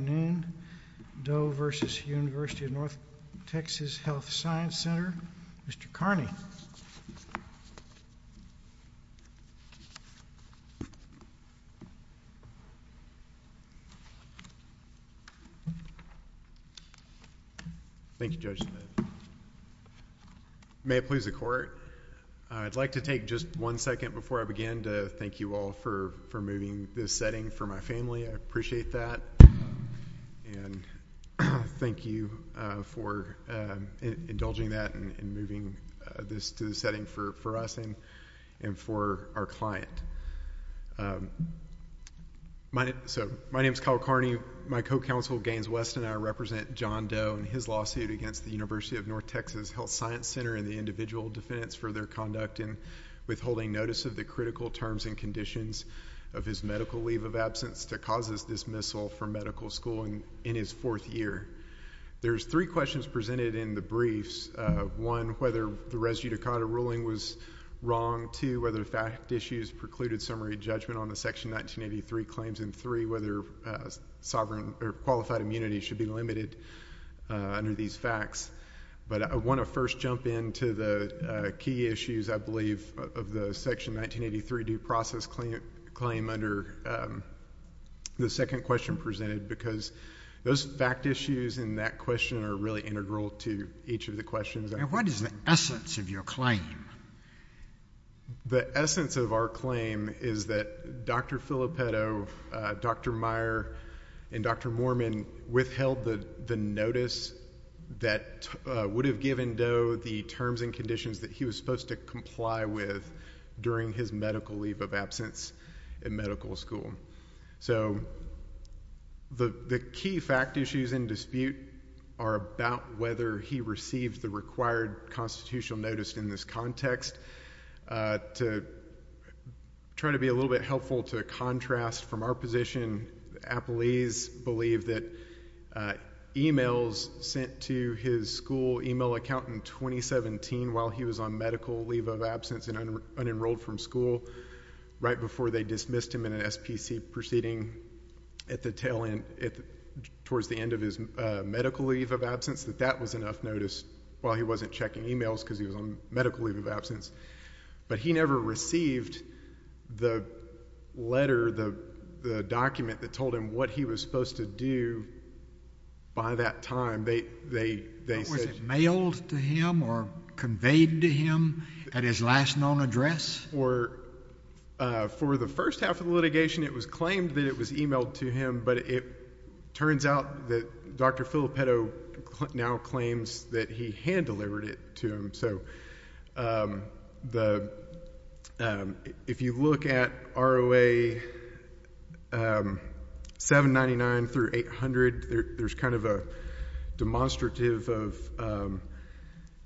Mr. Kearney Thank you Judge Smith. May it please the court, I'd like to take just one second before I begin to thank you all for moving this setting for my family. I appreciate that and thank you for indulging that and moving this to the setting for us and for our client. My name is Kyle Kearney. My co-counsel Gaines West and I represent John Doe in his lawsuit against the Univ of N TX Hlth Sci Ctr in the individual defense for their conduct in withholding notice of the critical terms and conditions of his medical leave of absence that causes dismissal from medical school in his fourth year. There's three questions presented in the briefs. One, whether the res judicata ruling was wrong. Two, whether the fact issues precluded summary judgment on the section 1983 claims. And three, whether sovereign or qualified immunity should be limited under these facts. But I want to first jump into the key issues, I believe, of the section 1983 due process claim under the second question presented because those fact issues in that question are really integral to each of the questions. And what is the essence of your claim? The essence of our claim is that Dr. Filippetto, Dr. Meyer, and Dr. Mormon withheld the notice that would have given Doe the terms and conditions that he was supposed to comply with during his medical leave of absence in medical school. So the key fact issues in dispute are about whether he received the required constitutional notice in this context. To try to be a little bit helpful to contrast from our position, appellees believe that emails sent to his school email account in 2017 while he was on medical leave of absence and unenrolled from school, right before they dismissed him in an SPC proceeding at the tail end, towards the end of his medical leave of absence, that that was enough notice while he wasn't checking emails because he was on medical leave of absence. But he never received the letter, the document that told him what he was supposed to do by that time. Was it mailed to him or conveyed to him at his last known address? For the first half of the litigation, it was claimed that it was emailed to him, but it was never sent to him. So if you look at ROA 799 through 800, there's kind of a demonstrative of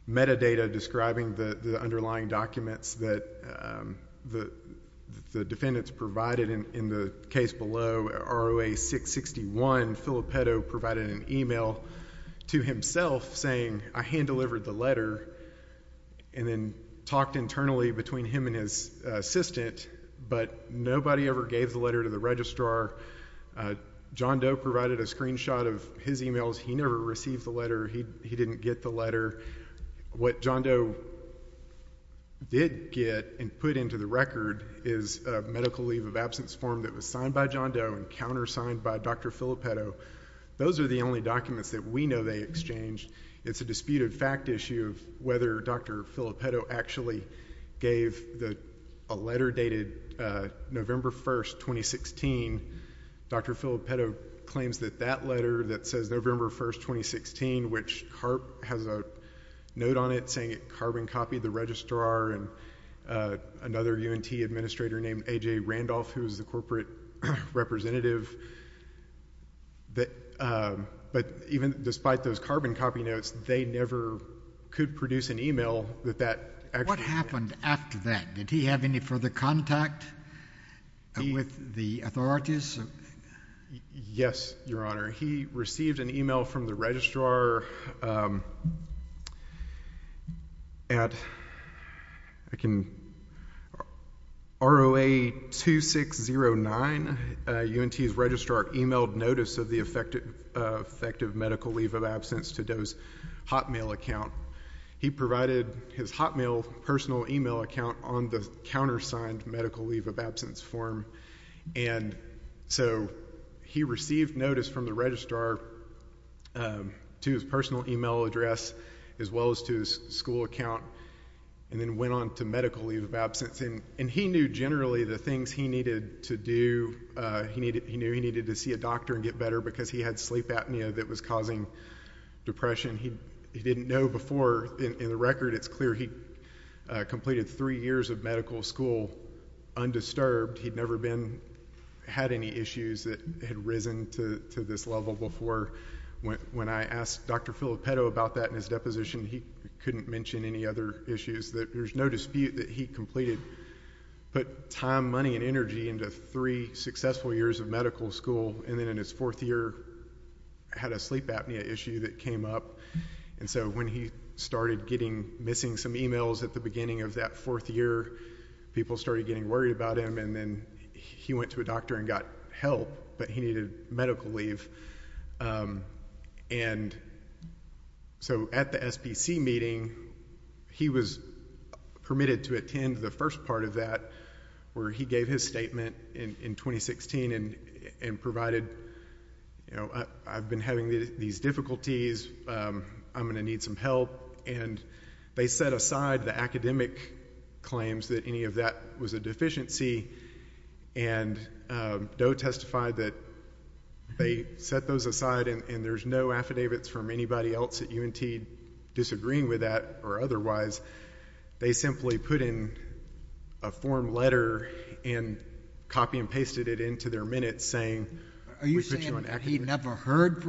metadata describing the underlying documents that the defendants provided. In the case below, ROA 661, Filippetto provided an email to himself saying, I hand-delivered the letter and then talked internally between him and his assistant, but nobody ever gave the letter to the registrar. John Doe provided a screenshot of his emails. He never received the letter. He didn't get the letter. What John Doe did get and put into the record is a medical leave of absence form that was signed by John Doe and countersigned by Dr. Filippetto. Those are the only documents that we know they exchanged. It's a disputed fact issue whether Dr. Filippetto actually gave a letter dated November 1, 2016. Dr. Filippetto claims that that letter that says November 1, 2016, which has a note on it saying it carbon copied the registrar and another UNT administrator named A.J. Randolph, who is the corporate representative, but even despite those carbon copy notes, they never could produce an email that that actually... What happened after that? Did he have any further contact with the authorities? Yes, Your Honor. He received an email from the registrar at ROA-2609. UNT's registrar emailed notice of the effective medical leave of absence to Doe's Hotmail account. He provided his Hotmail personal email account on the countersigned medical leave of absence form. He received notice from the registrar to his personal email address as well as to his school account and then went on to medical leave of absence. He knew generally the things he needed to do. He knew he needed to see a doctor and get better because he had sleep apnea that was causing depression. He didn't know before. In the record, it's clear he completed three years of medical school undisturbed. He'd never had any issues that had risen to this level before. When I asked Dr. Filippetto about that in his deposition, he couldn't mention any other issues. There's no dispute that he completed... put time, money and energy into three successful years of medical school and then in his fourth year, had a sleep apnea issue that came up. And so when he started getting... missing some emails at the beginning of that fourth year, people started getting worried about him and then he went to a doctor and got help, but he needed medical leave. And so at the SPC meeting, he was permitted to attend the first part of that where he gave his statement in 2016 and provided, you know, I've been having these difficulties. I'm going to need some help. And they set aside the academic claims that any of that was a deficiency and Doe testified that they set those aside and there's no affidavits from anybody else at UNT disagreeing with that or otherwise. They simply put in a form letter and copy and pasted it into their minutes saying... Thereafter, he never heard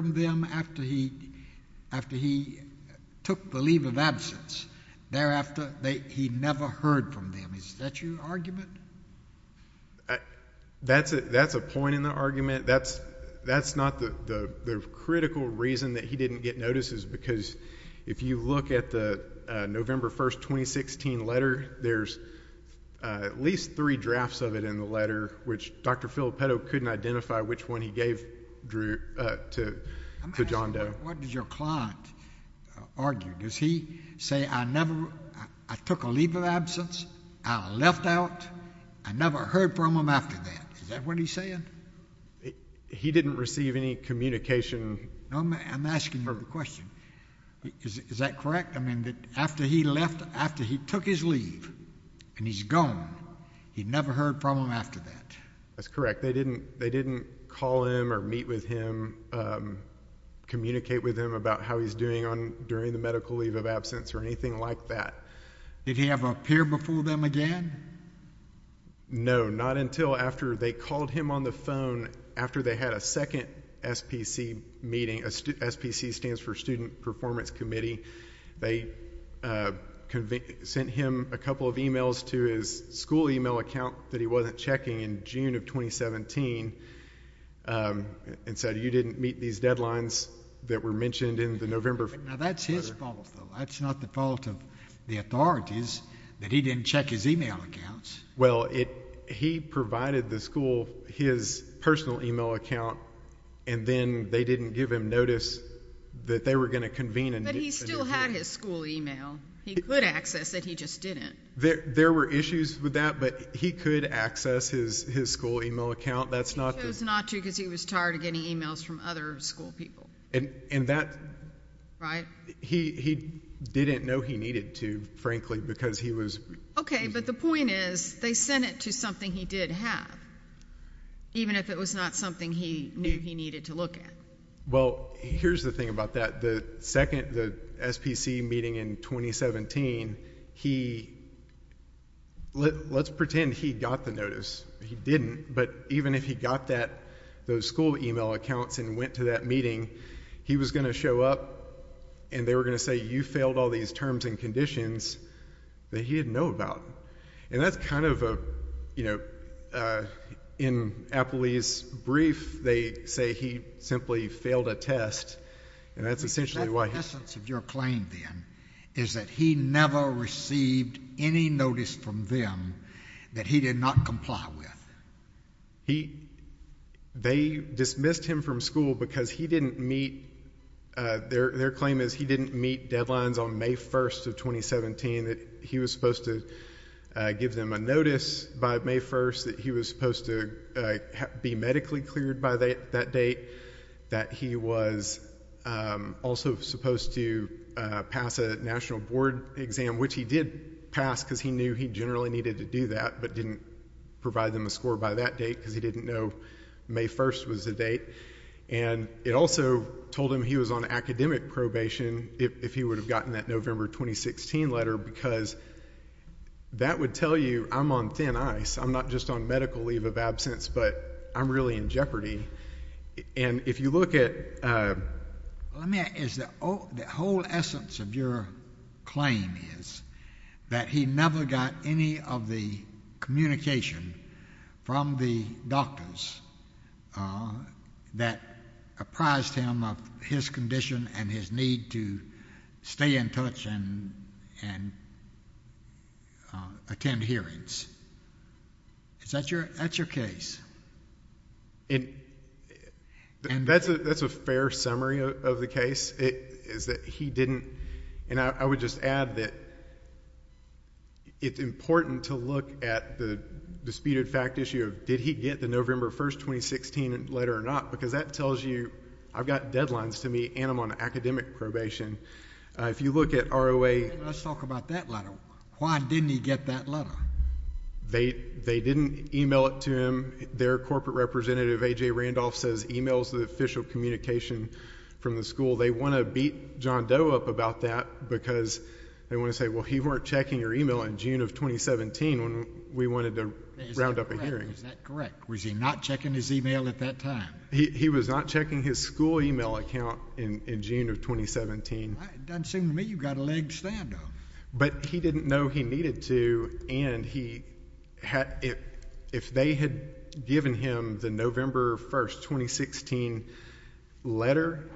from them. Is that your argument? That's a point in the argument. That's not the critical reason that he didn't get notices because if you look at the November 1, 2016 letter, there's at least three drafts of it in the letter which Dr. Filippetto couldn't identify which one he gave to John Doe. What does your client argue? Does he say, I never... I took a leave of absence. I left out. I never heard from him after that. Is that what he's saying? He didn't receive any communication... I'm asking you a question. Is that correct? I mean, after he left, after he took his leave and he's gone, he never heard from him after that? That's correct. They didn't call him or meet with him, communicate with him about how he's doing during the medical leave of absence or anything like that. Did he have a peer before them again? No, not until after they called him on the phone after they had a second SPC meeting. SPC stands for Student Performance Committee. They sent him a couple of emails to his school email account that he wasn't checking in June of 2017 and said, you didn't meet these deadlines that were mentioned in the November... Well, he provided the school his personal email account and then they didn't give him notice that they were going to convene... But he still had his school email. He could access it. He just didn't. There were issues with that, but he could access his school email account. That's not... He chose not to because he was tired of getting emails from other school people. And that... Right. He didn't know he needed to, frankly, because he was... Okay, but the point is they sent it to something he did have, even if it was not something he knew he needed to look at. Well, here's the thing about that. The second SPC meeting in 2017, he... let's pretend he got the notice. He didn't, but even if he got that... those school email accounts and went to that meeting, he was going to show up... and they were going to say, you failed all these terms and conditions that he didn't know about. And that's kind of a... you know, in Apley's brief, they say he simply failed a test and that's essentially why he... But that's the essence of your claim then, is that he never received any notice from them that he did not comply with. He... they dismissed him from school because he didn't meet... their claim is he didn't meet deadlines on May 1st of 2017 that he was supposed to give them a notice by May 1st... that he was supposed to be medically cleared by that date... that he was also supposed to pass a national board exam, which he did pass because he knew he generally needed to do that... but didn't provide them a score by that date, because he didn't know May 1st was the date. And, it also told him he was on academic probation, if he would have gotten that November 2016 letter... because that would tell you, I'm on thin ice. I'm not just on medical leave of absence, but I'm really in jeopardy. And, if you look at... The whole essence of your claim is that he never got any of the communication from the doctors... that apprised him of his condition and his need to stay in touch and attend hearings. Is that your case? And, that's a fair summary of the case, is that he didn't. And, I would just add that it's important to look at the disputed fact issue of did he get the November 1st, 2016 letter or not... because that tells you, I've got deadlines to meet and I'm on academic probation. If you look at ROA... Let's talk about that letter. Why didn't he get that letter? They didn't email it to him. Their corporate representative, A.J. Randolph, says email is the official communication from the school. They want to beat John Doe up about that because they want to say, well he weren't checking your email in June of 2017... when we wanted to round up a hearing. Is that correct? Was he not checking his email at that time? He was not checking his school email account in June of 2017. Doesn't seem to me you've got a leg to stand on. But, he didn't know he needed to and if they had given him the November 1st, 2016 letter...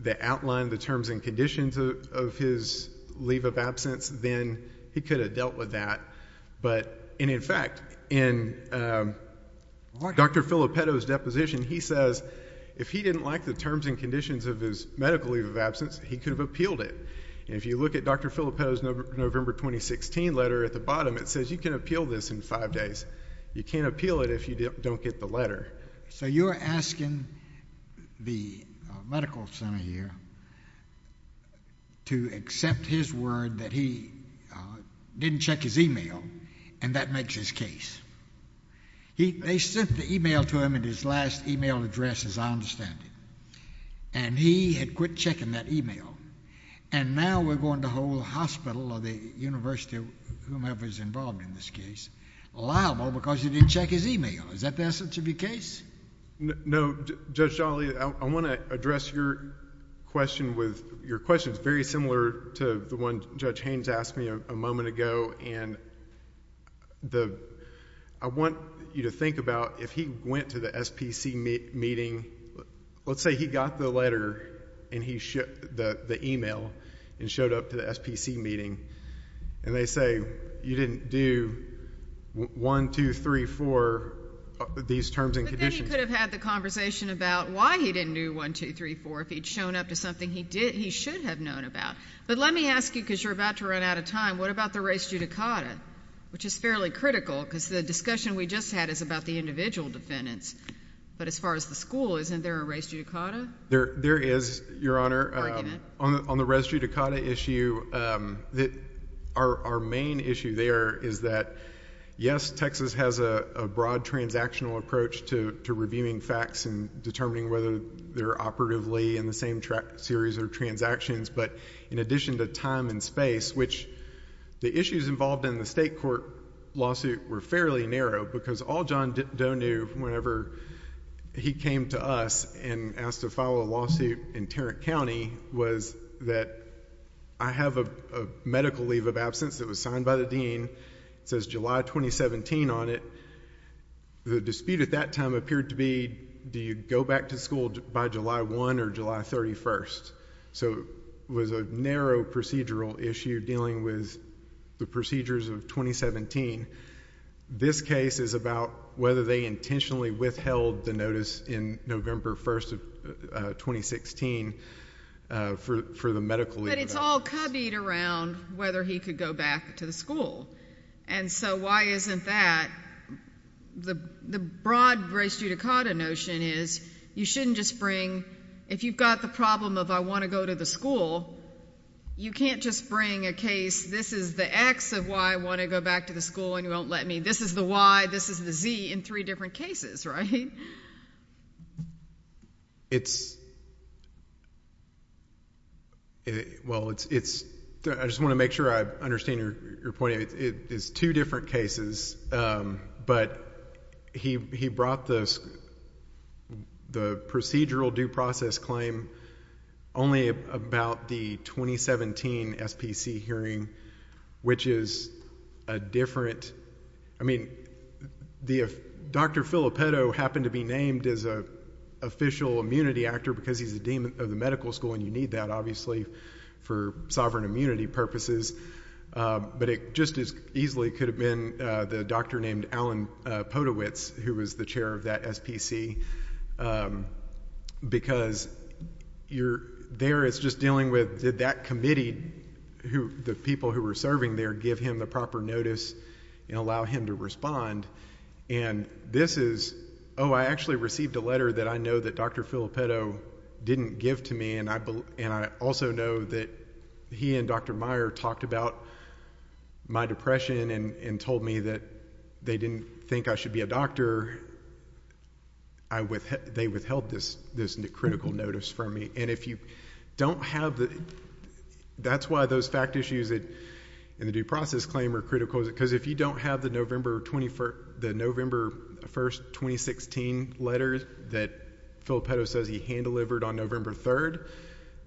that outlined the terms and conditions of his leave of absence, then he could have dealt with that. But, and in fact, in Dr. Filippetto's deposition, he says if he didn't like the terms and conditions of his medical leave of absence... he could have appealed it. And, if you look at Dr. Filippetto's November, 2016 letter at the bottom, it says you can appeal this in five days. You can't appeal it, if you don't get the letter. So, you're asking the medical center here, to accept his word that he didn't check his email and that makes his case. They sent the email to him at his last email address, as I understand it. And, he had quit checking that email. And, now we're going to hold the hospital or the university, whomever is involved in this case, liable because he didn't check his email. Is that the essence of your case? No. Judge Jolly, I want to address your question with... your question is very similar to the one Judge Haynes asked me a moment ago. And, I want you to think about if he went to the SPC meeting... Let's say he got the letter and he shipped the email and showed up to the SPC meeting. And, they say, you didn't do 1, 2, 3, 4, these terms and conditions. But, then he could have had the conversation about why he didn't do 1, 2, 3, 4, if he'd shown up to something he should have known about. But, let me ask you, because you're about to run out of time, what about the res judicata? Which is fairly critical, because the discussion we just had is about the individual defendants. But, as far as the school, isn't there a res judicata? There is, Your Honor. On the res judicata issue, our main issue there is that, yes, Texas has a broad transactional approach to reviewing facts... and determining whether they're operatively in the same series of transactions. But, in addition to time and space, which the issues involved in the state court lawsuit were fairly narrow... He came to us and asked to file a lawsuit in Tarrant County, was that I have a medical leave of absence that was signed by the Dean. It says July 2017 on it. The dispute at that time appeared to be, do you go back to school by July 1 or July 31st? So, it was a narrow procedural issue dealing with the procedures of 2017. This case is about whether they intentionally withheld the notice in November 1st of 2016, for the medical leave of absence. But, it's all cubbied around whether he could go back to the school. And so, why isn't that? The broad res judicata notion is, you shouldn't just bring... If you've got the problem of, I want to go to the school, you can't just bring a case... And, you won't let me. This is the Y, this is the Z, in three different cases, right? It's... Well, it's... I just want to make sure I understand your point. It's two different cases. But, he brought the procedural due process claim only about the 2017 SPC hearing, which is a different... I mean, Dr. Filippetto happened to be named as an official immunity actor, because he's the dean of the medical school. And, you need that, obviously, for sovereign immunity purposes. But, it just as easily could have been the doctor named Alan Potowicz, who was the chair of that SPC. Because, you're there, it's just dealing with, did that committee, the people who were serving there, give him the proper notice and allow him to respond? And, this is... Oh, I actually received a letter that I know that Dr. Filippetto didn't give to me. And, I also know that he and Dr. Meyer talked about my depression and told me that they didn't think I should be a doctor. They withheld this critical notice from me. And, if you don't have the... That's why those fact issues in the due process claim are critical. Because, if you don't have the November 21st... the November 1st, 2016 letter that Filippetto says he hand-delivered on November 3rd,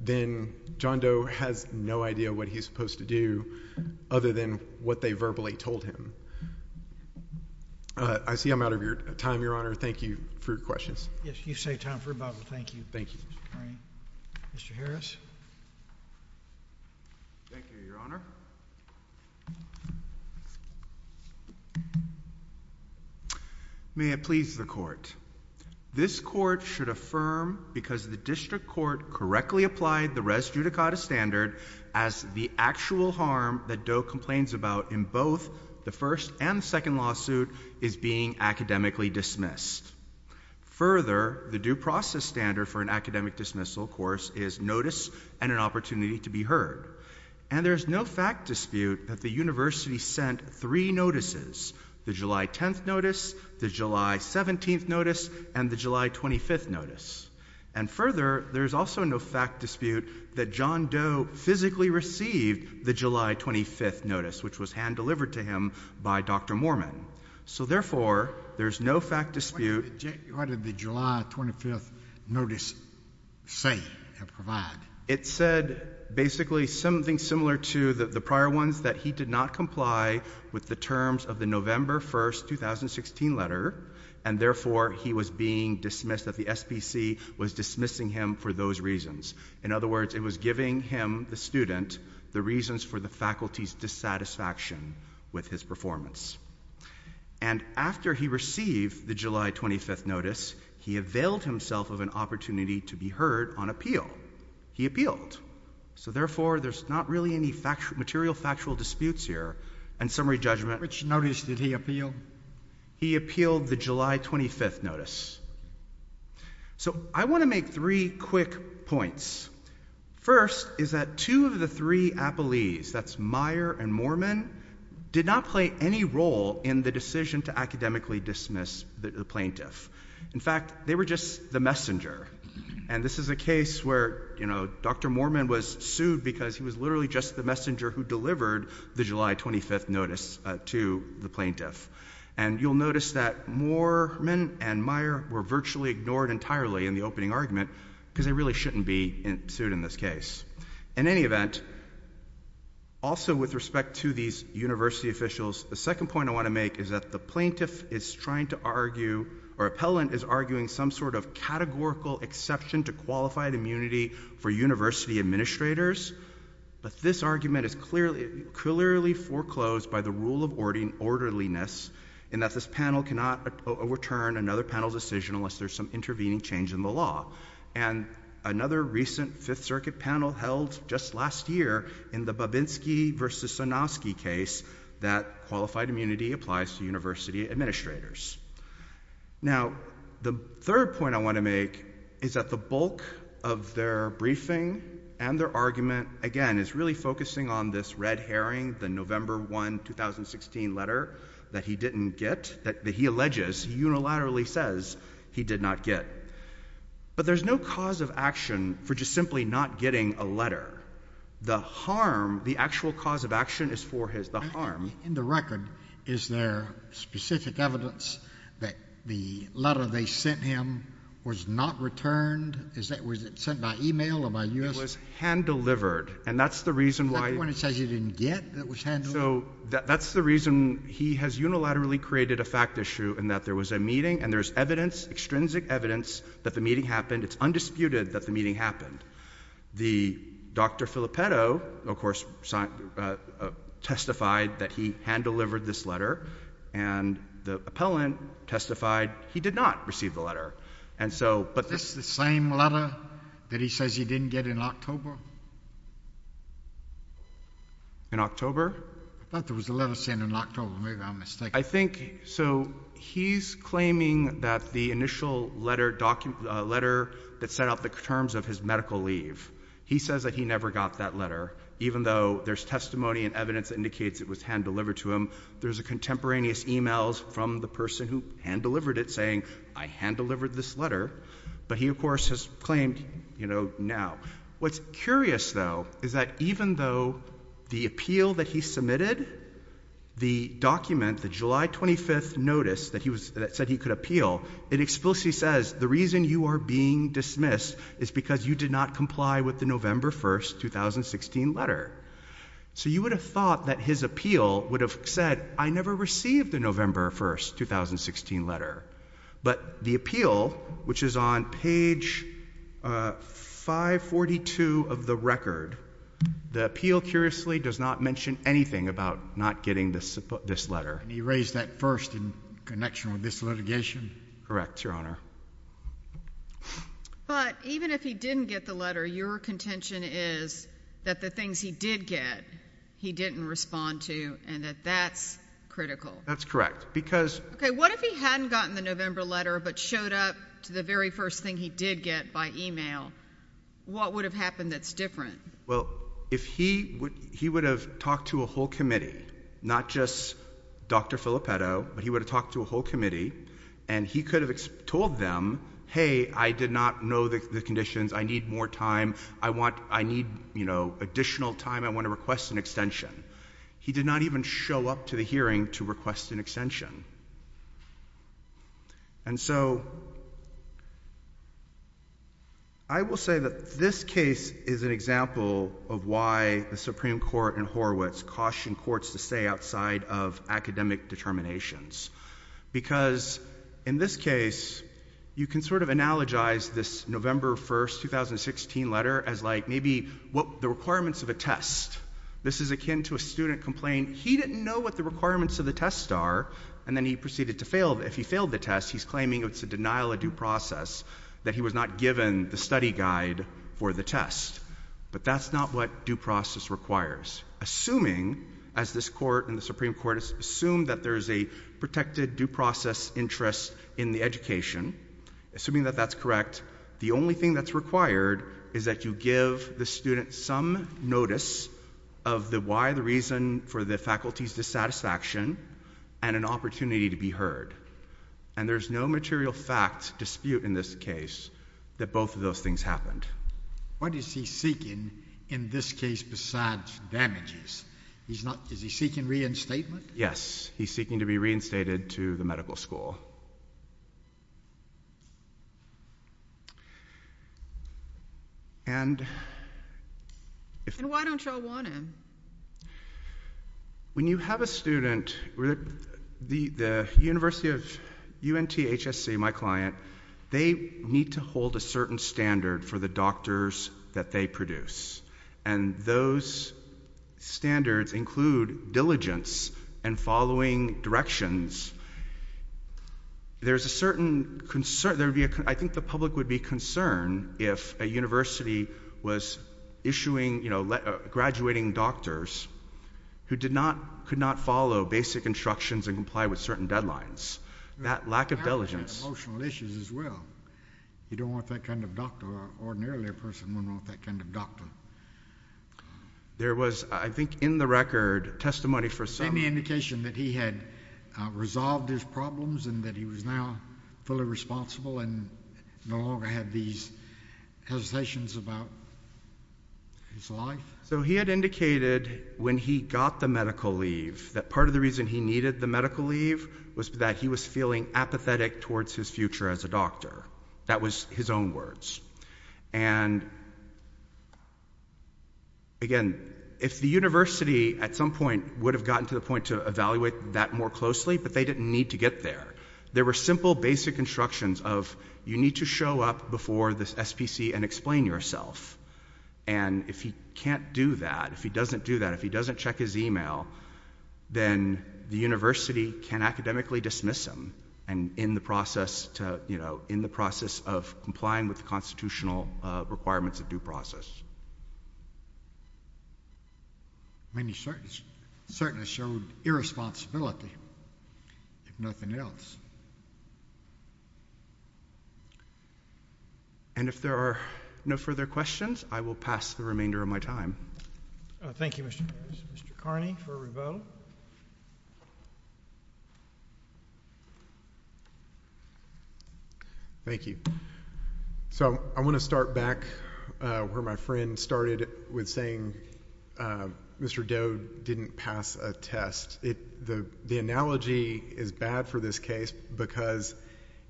then John Doe has no idea what he's supposed to do, other than what they verbally told him. I see I'm out of time, Your Honor. Thank you for your questions. Yes, you've saved time for about... Thank you. Mr. Harris? Thank you, Your Honor. May it please the Court. This Court should affirm, because the District Court correctly applied the res judicata standard, as the actual harm that Doe complains about in both the first and second lawsuit is being academically dismissed. Further, the due process standard for an academic dismissal course is notice and an opportunity to be heard. And, there's no fact dispute that the University sent three notices, the July 10th notice, the July 17th notice, and the July 25th notice. And, further, there's also no fact dispute that John Doe physically received the July 25th notice, which was hand-delivered to him by Dr. Mormon. So, therefore, there's no fact dispute... What did the July 25th notice say and provide? It said, basically, something similar to the prior ones, that he did not comply with the terms of the November 1st, 2016 letter. And, therefore, he was being dismissed, that the SPC was dismissing him for those reasons. In other words, it was giving him, the student, the reasons for the faculty's dissatisfaction with his performance. And, after he received the July 25th notice, he availed himself of an opportunity to be heard on appeal. He appealed. So, therefore, there's not really any material factual disputes here. And, summary judgment... Which notice did he appeal? He appealed the July 25th notice. So, I want to make three quick points. First, is that two of the three appellees, that's Meyer and Mormon, did not play any role in the decision to academically dismiss the plaintiff. In fact, they were just the messenger. And, this is a case where, you know, Dr. Mormon was sued because he was literally just the messenger who delivered the July 25th notice to the plaintiff. And, you'll notice that Mormon and Meyer were virtually ignored entirely in the opening argument, because they really shouldn't be sued in this case. In any event, also with respect to these university officials, the second point I want to make is that the plaintiff is trying to argue, or appellant is arguing, some sort of categorical exception to qualified immunity for university administrators. But, this argument is clearly foreclosed by the rule of orderliness, in that this panel cannot overturn another panel's decision unless there's some intervening change in the law. And, another recent Fifth Circuit panel held just last year in the Babinski versus Sanofsky case, that qualified immunity applies to university administrators. Now, the third point I want to make is that the bulk of their briefing and their argument, again, is really focusing on this red herring, the November 1, 2016 letter that he didn't get, that he alleges, he unilaterally says, he did not get. But, there's no cause of action for just simply not getting a letter. The harm, the actual cause of action is for his, the harm. In the record, is there specific evidence that the letter they sent him was not returned? Was it sent by email or by U.S.? It was hand-delivered, and that's the reason why— Is that the one it says he didn't get that was hand-delivered? So, that's the reason he has unilaterally created a fact issue in that there was a meeting, and there's evidence, extrinsic evidence, that the meeting happened. It's undisputed that the meeting happened. The—Dr. Filippetto, of course, testified that he hand-delivered this letter, and the appellant testified he did not receive the letter. And so— Is this the same letter that he says he didn't get in October? In October? I thought there was a letter sent in October. Maybe I'm mistaken. I think—so, he's claiming that the initial letter that set out the terms of his medical leave, he says that he never got that letter, even though there's testimony and evidence that indicates it was hand-delivered to him. There's contemporaneous emails from the person who hand-delivered it saying, I hand-delivered this letter. But he, of course, has claimed, you know, now. What's curious, though, is that even though the appeal that he submitted, the document, the July 25th notice that said he could appeal, it explicitly says the reason you are being dismissed is because you did not comply with the November 1st, 2016 letter. So you would have thought that his appeal would have said, I never received the November 1st, 2016 letter. But the appeal, which is on page 542 of the record, the appeal, curiously, does not mention anything about not getting this letter. And he raised that first in connection with this litigation? Correct, Your Honor. But even if he didn't get the letter, your contention is that the things he did get, he didn't respond to, and that that's critical. That's correct. Okay, what if he hadn't gotten the November letter but showed up to the very first thing he did get by email? What would have happened that's different? Well, if he would have talked to a whole committee, not just Dr. Filippetto, but he would have talked to a whole committee, and he could have told them, hey, I did not know the conditions. I need more time. I need, you know, additional time. I want to request an extension. He did not even show up to the hearing to request an extension. And so I will say that this case is an example of why the Supreme Court and Horowitz caution courts to stay outside of academic determinations. Because in this case, you can sort of analogize this November 1st, 2016 letter as like maybe the requirements of a test. This is akin to a student complaining he didn't know what the requirements of the test are, and then he proceeded to fail. If he failed the test, he's claiming it's a denial of due process, that he was not given the study guide for the test. But that's not what due process requires. Assuming, as this court and the Supreme Court assume that there's a protected due process interest in the education, assuming that that's correct, the only thing that's required is that you give the student some notice of the why, the reason for the faculty's dissatisfaction, and an opportunity to be heard. And there's no material fact dispute in this case that both of those things happened. What is he seeking in this case besides damages? He's not, is he seeking reinstatement? Yes, he's seeking to be reinstated to the medical school. And... And why don't y'all want him? When you have a student, the University of UNTHSC, my client, they need to hold a certain standard for the doctors that they produce. And those standards include diligence and following directions. There's a certain concern, I think the public would be concerned if a university was issuing, you know, graduating doctors who did not, could not follow basic instructions and comply with certain deadlines. That lack of diligence... There was, I think in the record, testimony for some... Any indication that he had resolved his problems and that he was now fully responsible and no longer had these hesitations about his life? So he had indicated when he got the medical leave that part of the reason he needed the medical leave was that he was feeling apathetic towards his future as a doctor. That was his own words. And... Again, if the university at some point would have gotten to the point to evaluate that more closely, but they didn't need to get there. There were simple basic instructions of you need to show up before this SPC and explain yourself. And if he can't do that, if he doesn't do that, if he doesn't check his email, then the university can academically dismiss him. And in the process to, you know, in the process of complying with the constitutional requirements of due process. I mean, he certainly showed irresponsibility, if nothing else. And if there are no further questions, I will pass the remainder of my time. Thank you, Mr. Harris. Mr. Carney for revote. Thank you. So I want to start back where my friend started with saying Mr. Doe didn't pass a test. The analogy is bad for this case because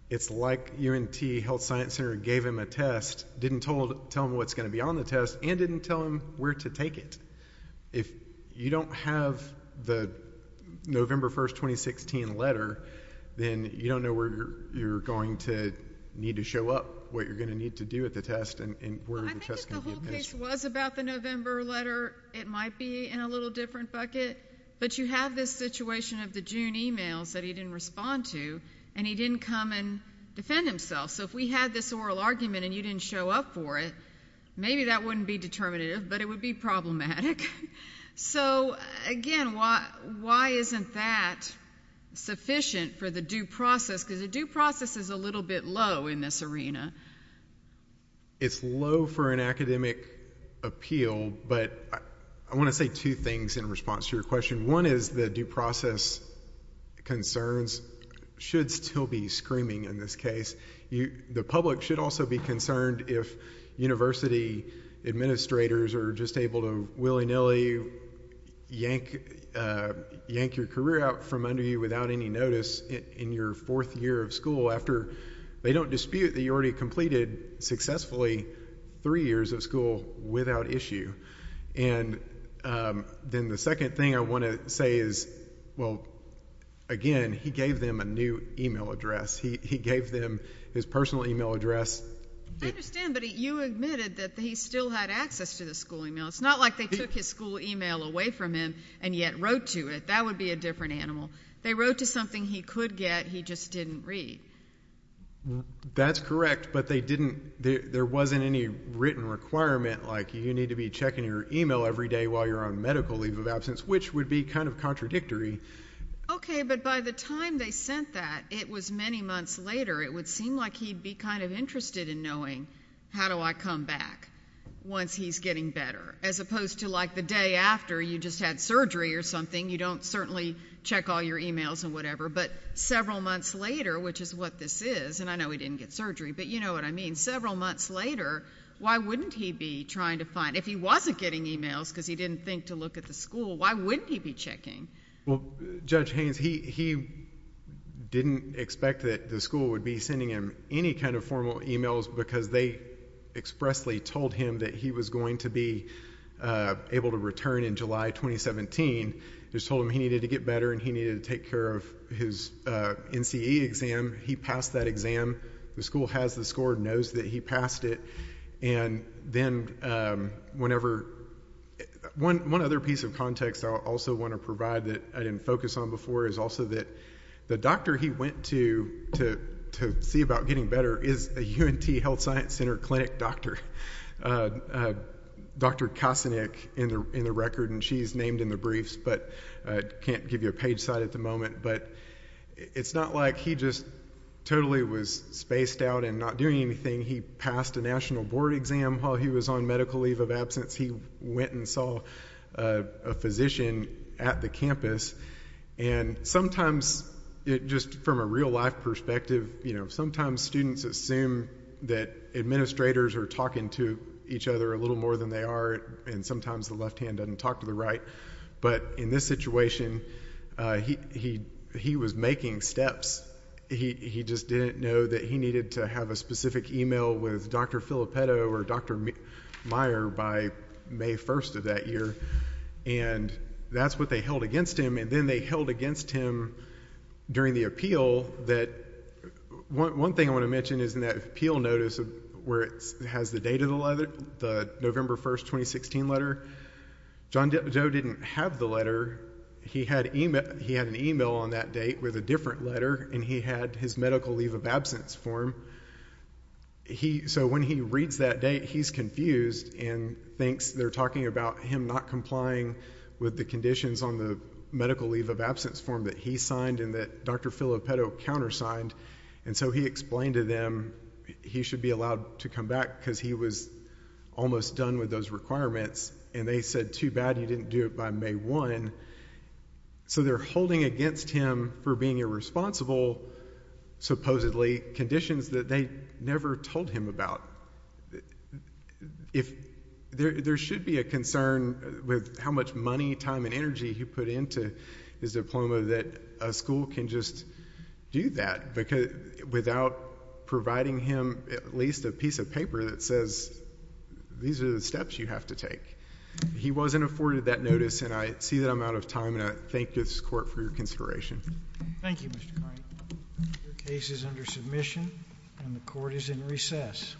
it's like UNT Health Science Center gave him a test, didn't tell him what's going to be on the test, and didn't tell him where to take it. If you don't have the November 1, 2016 letter, then you don't know where you're going to need to show up, what you're going to need to do at the test, and where the test is going to be administered. Well, I think if the whole case was about the November letter, it might be in a little different bucket. But you have this situation of the June emails that he didn't respond to, and he didn't come and defend himself. So if we had this oral argument and you didn't show up for it, maybe that wouldn't be determinative, but it would be problematic. So, again, why isn't that sufficient for the due process? Because the due process is a little bit low in this arena. It's low for an academic appeal, but I want to say two things in response to your question. One is the due process concerns should still be screaming in this case. The public should also be concerned if university administrators are just able to willy-nilly yank your career out from under you without any notice in your fourth year of school, after they don't dispute that you already completed successfully three years of school without issue. And then the second thing I want to say is, well, again, he gave them a new email address. He gave them his personal email address. I understand, but you admitted that he still had access to the school email. It's not like they took his school email away from him and yet wrote to it. That would be a different animal. They wrote to something he could get, he just didn't read. That's correct, but there wasn't any written requirement like you need to be checking your email every day while you're on medical leave of absence, which would be kind of contradictory. Okay, but by the time they sent that, it was many months later. It would seem like he'd be kind of interested in knowing how do I come back once he's getting better, as opposed to like the day after you just had surgery or something. You don't certainly check all your emails and whatever, but several months later, which is what this is, and I know he didn't get surgery, but you know what I mean, several months later, why wouldn't he be trying to find, if he wasn't getting emails because he didn't think to look at the school, why wouldn't he be checking? Well, Judge Haynes, he didn't expect that the school would be sending him any kind of formal emails because they expressly told him that he was going to be able to return in July 2017. They just told him he needed to get better and he needed to take care of his NCE exam. He passed that exam. The school has the score, knows that he passed it, and then whenever one other piece of context I also want to provide that I didn't focus on before is also that the doctor he went to to see about getting better is a UNT Health Science Center clinic doctor, Dr. Kasinick in the record, and she's named in the briefs, but I can't give you a page site at the moment, but it's not like he just totally was spaced out and not doing anything. He passed a national board exam while he was on medical leave of absence. He went and saw a physician at the campus, and sometimes, just from a real-life perspective, sometimes students assume that administrators are talking to each other a little more than they are, and sometimes the left hand doesn't talk to the right, but in this situation, he was making steps. He just didn't know that he needed to have a specific email with Dr. Filippetto or Dr. Meyer by May 1st of that year, and that's what they held against him, and then they held against him during the appeal. One thing I want to mention is in that appeal notice where it has the date of the November 1st, 2016 letter, John Doe didn't have the letter. He had an email on that date with a different letter, and he had his medical leave of absence form, so when he reads that date, he's confused and thinks they're talking about him not complying with the conditions on the medical leave of absence form that he signed and that Dr. Filippetto countersigned, and so he explained to them he should be allowed to come back because he was almost done with those requirements, and they said, too bad you didn't do it by May 1, so they're holding against him for being irresponsible, supposedly, conditions that they never told him about. There should be a concern with how much money, time, and energy he put into his diploma that a school can just do that without providing him at least a piece of paper that says these are the steps you have to take. He wasn't afforded that notice, and I see that I'm out of time, and I thank this Court for your consideration. Thank you, Mr. Cline. The case is under submission, and the Court is in recess.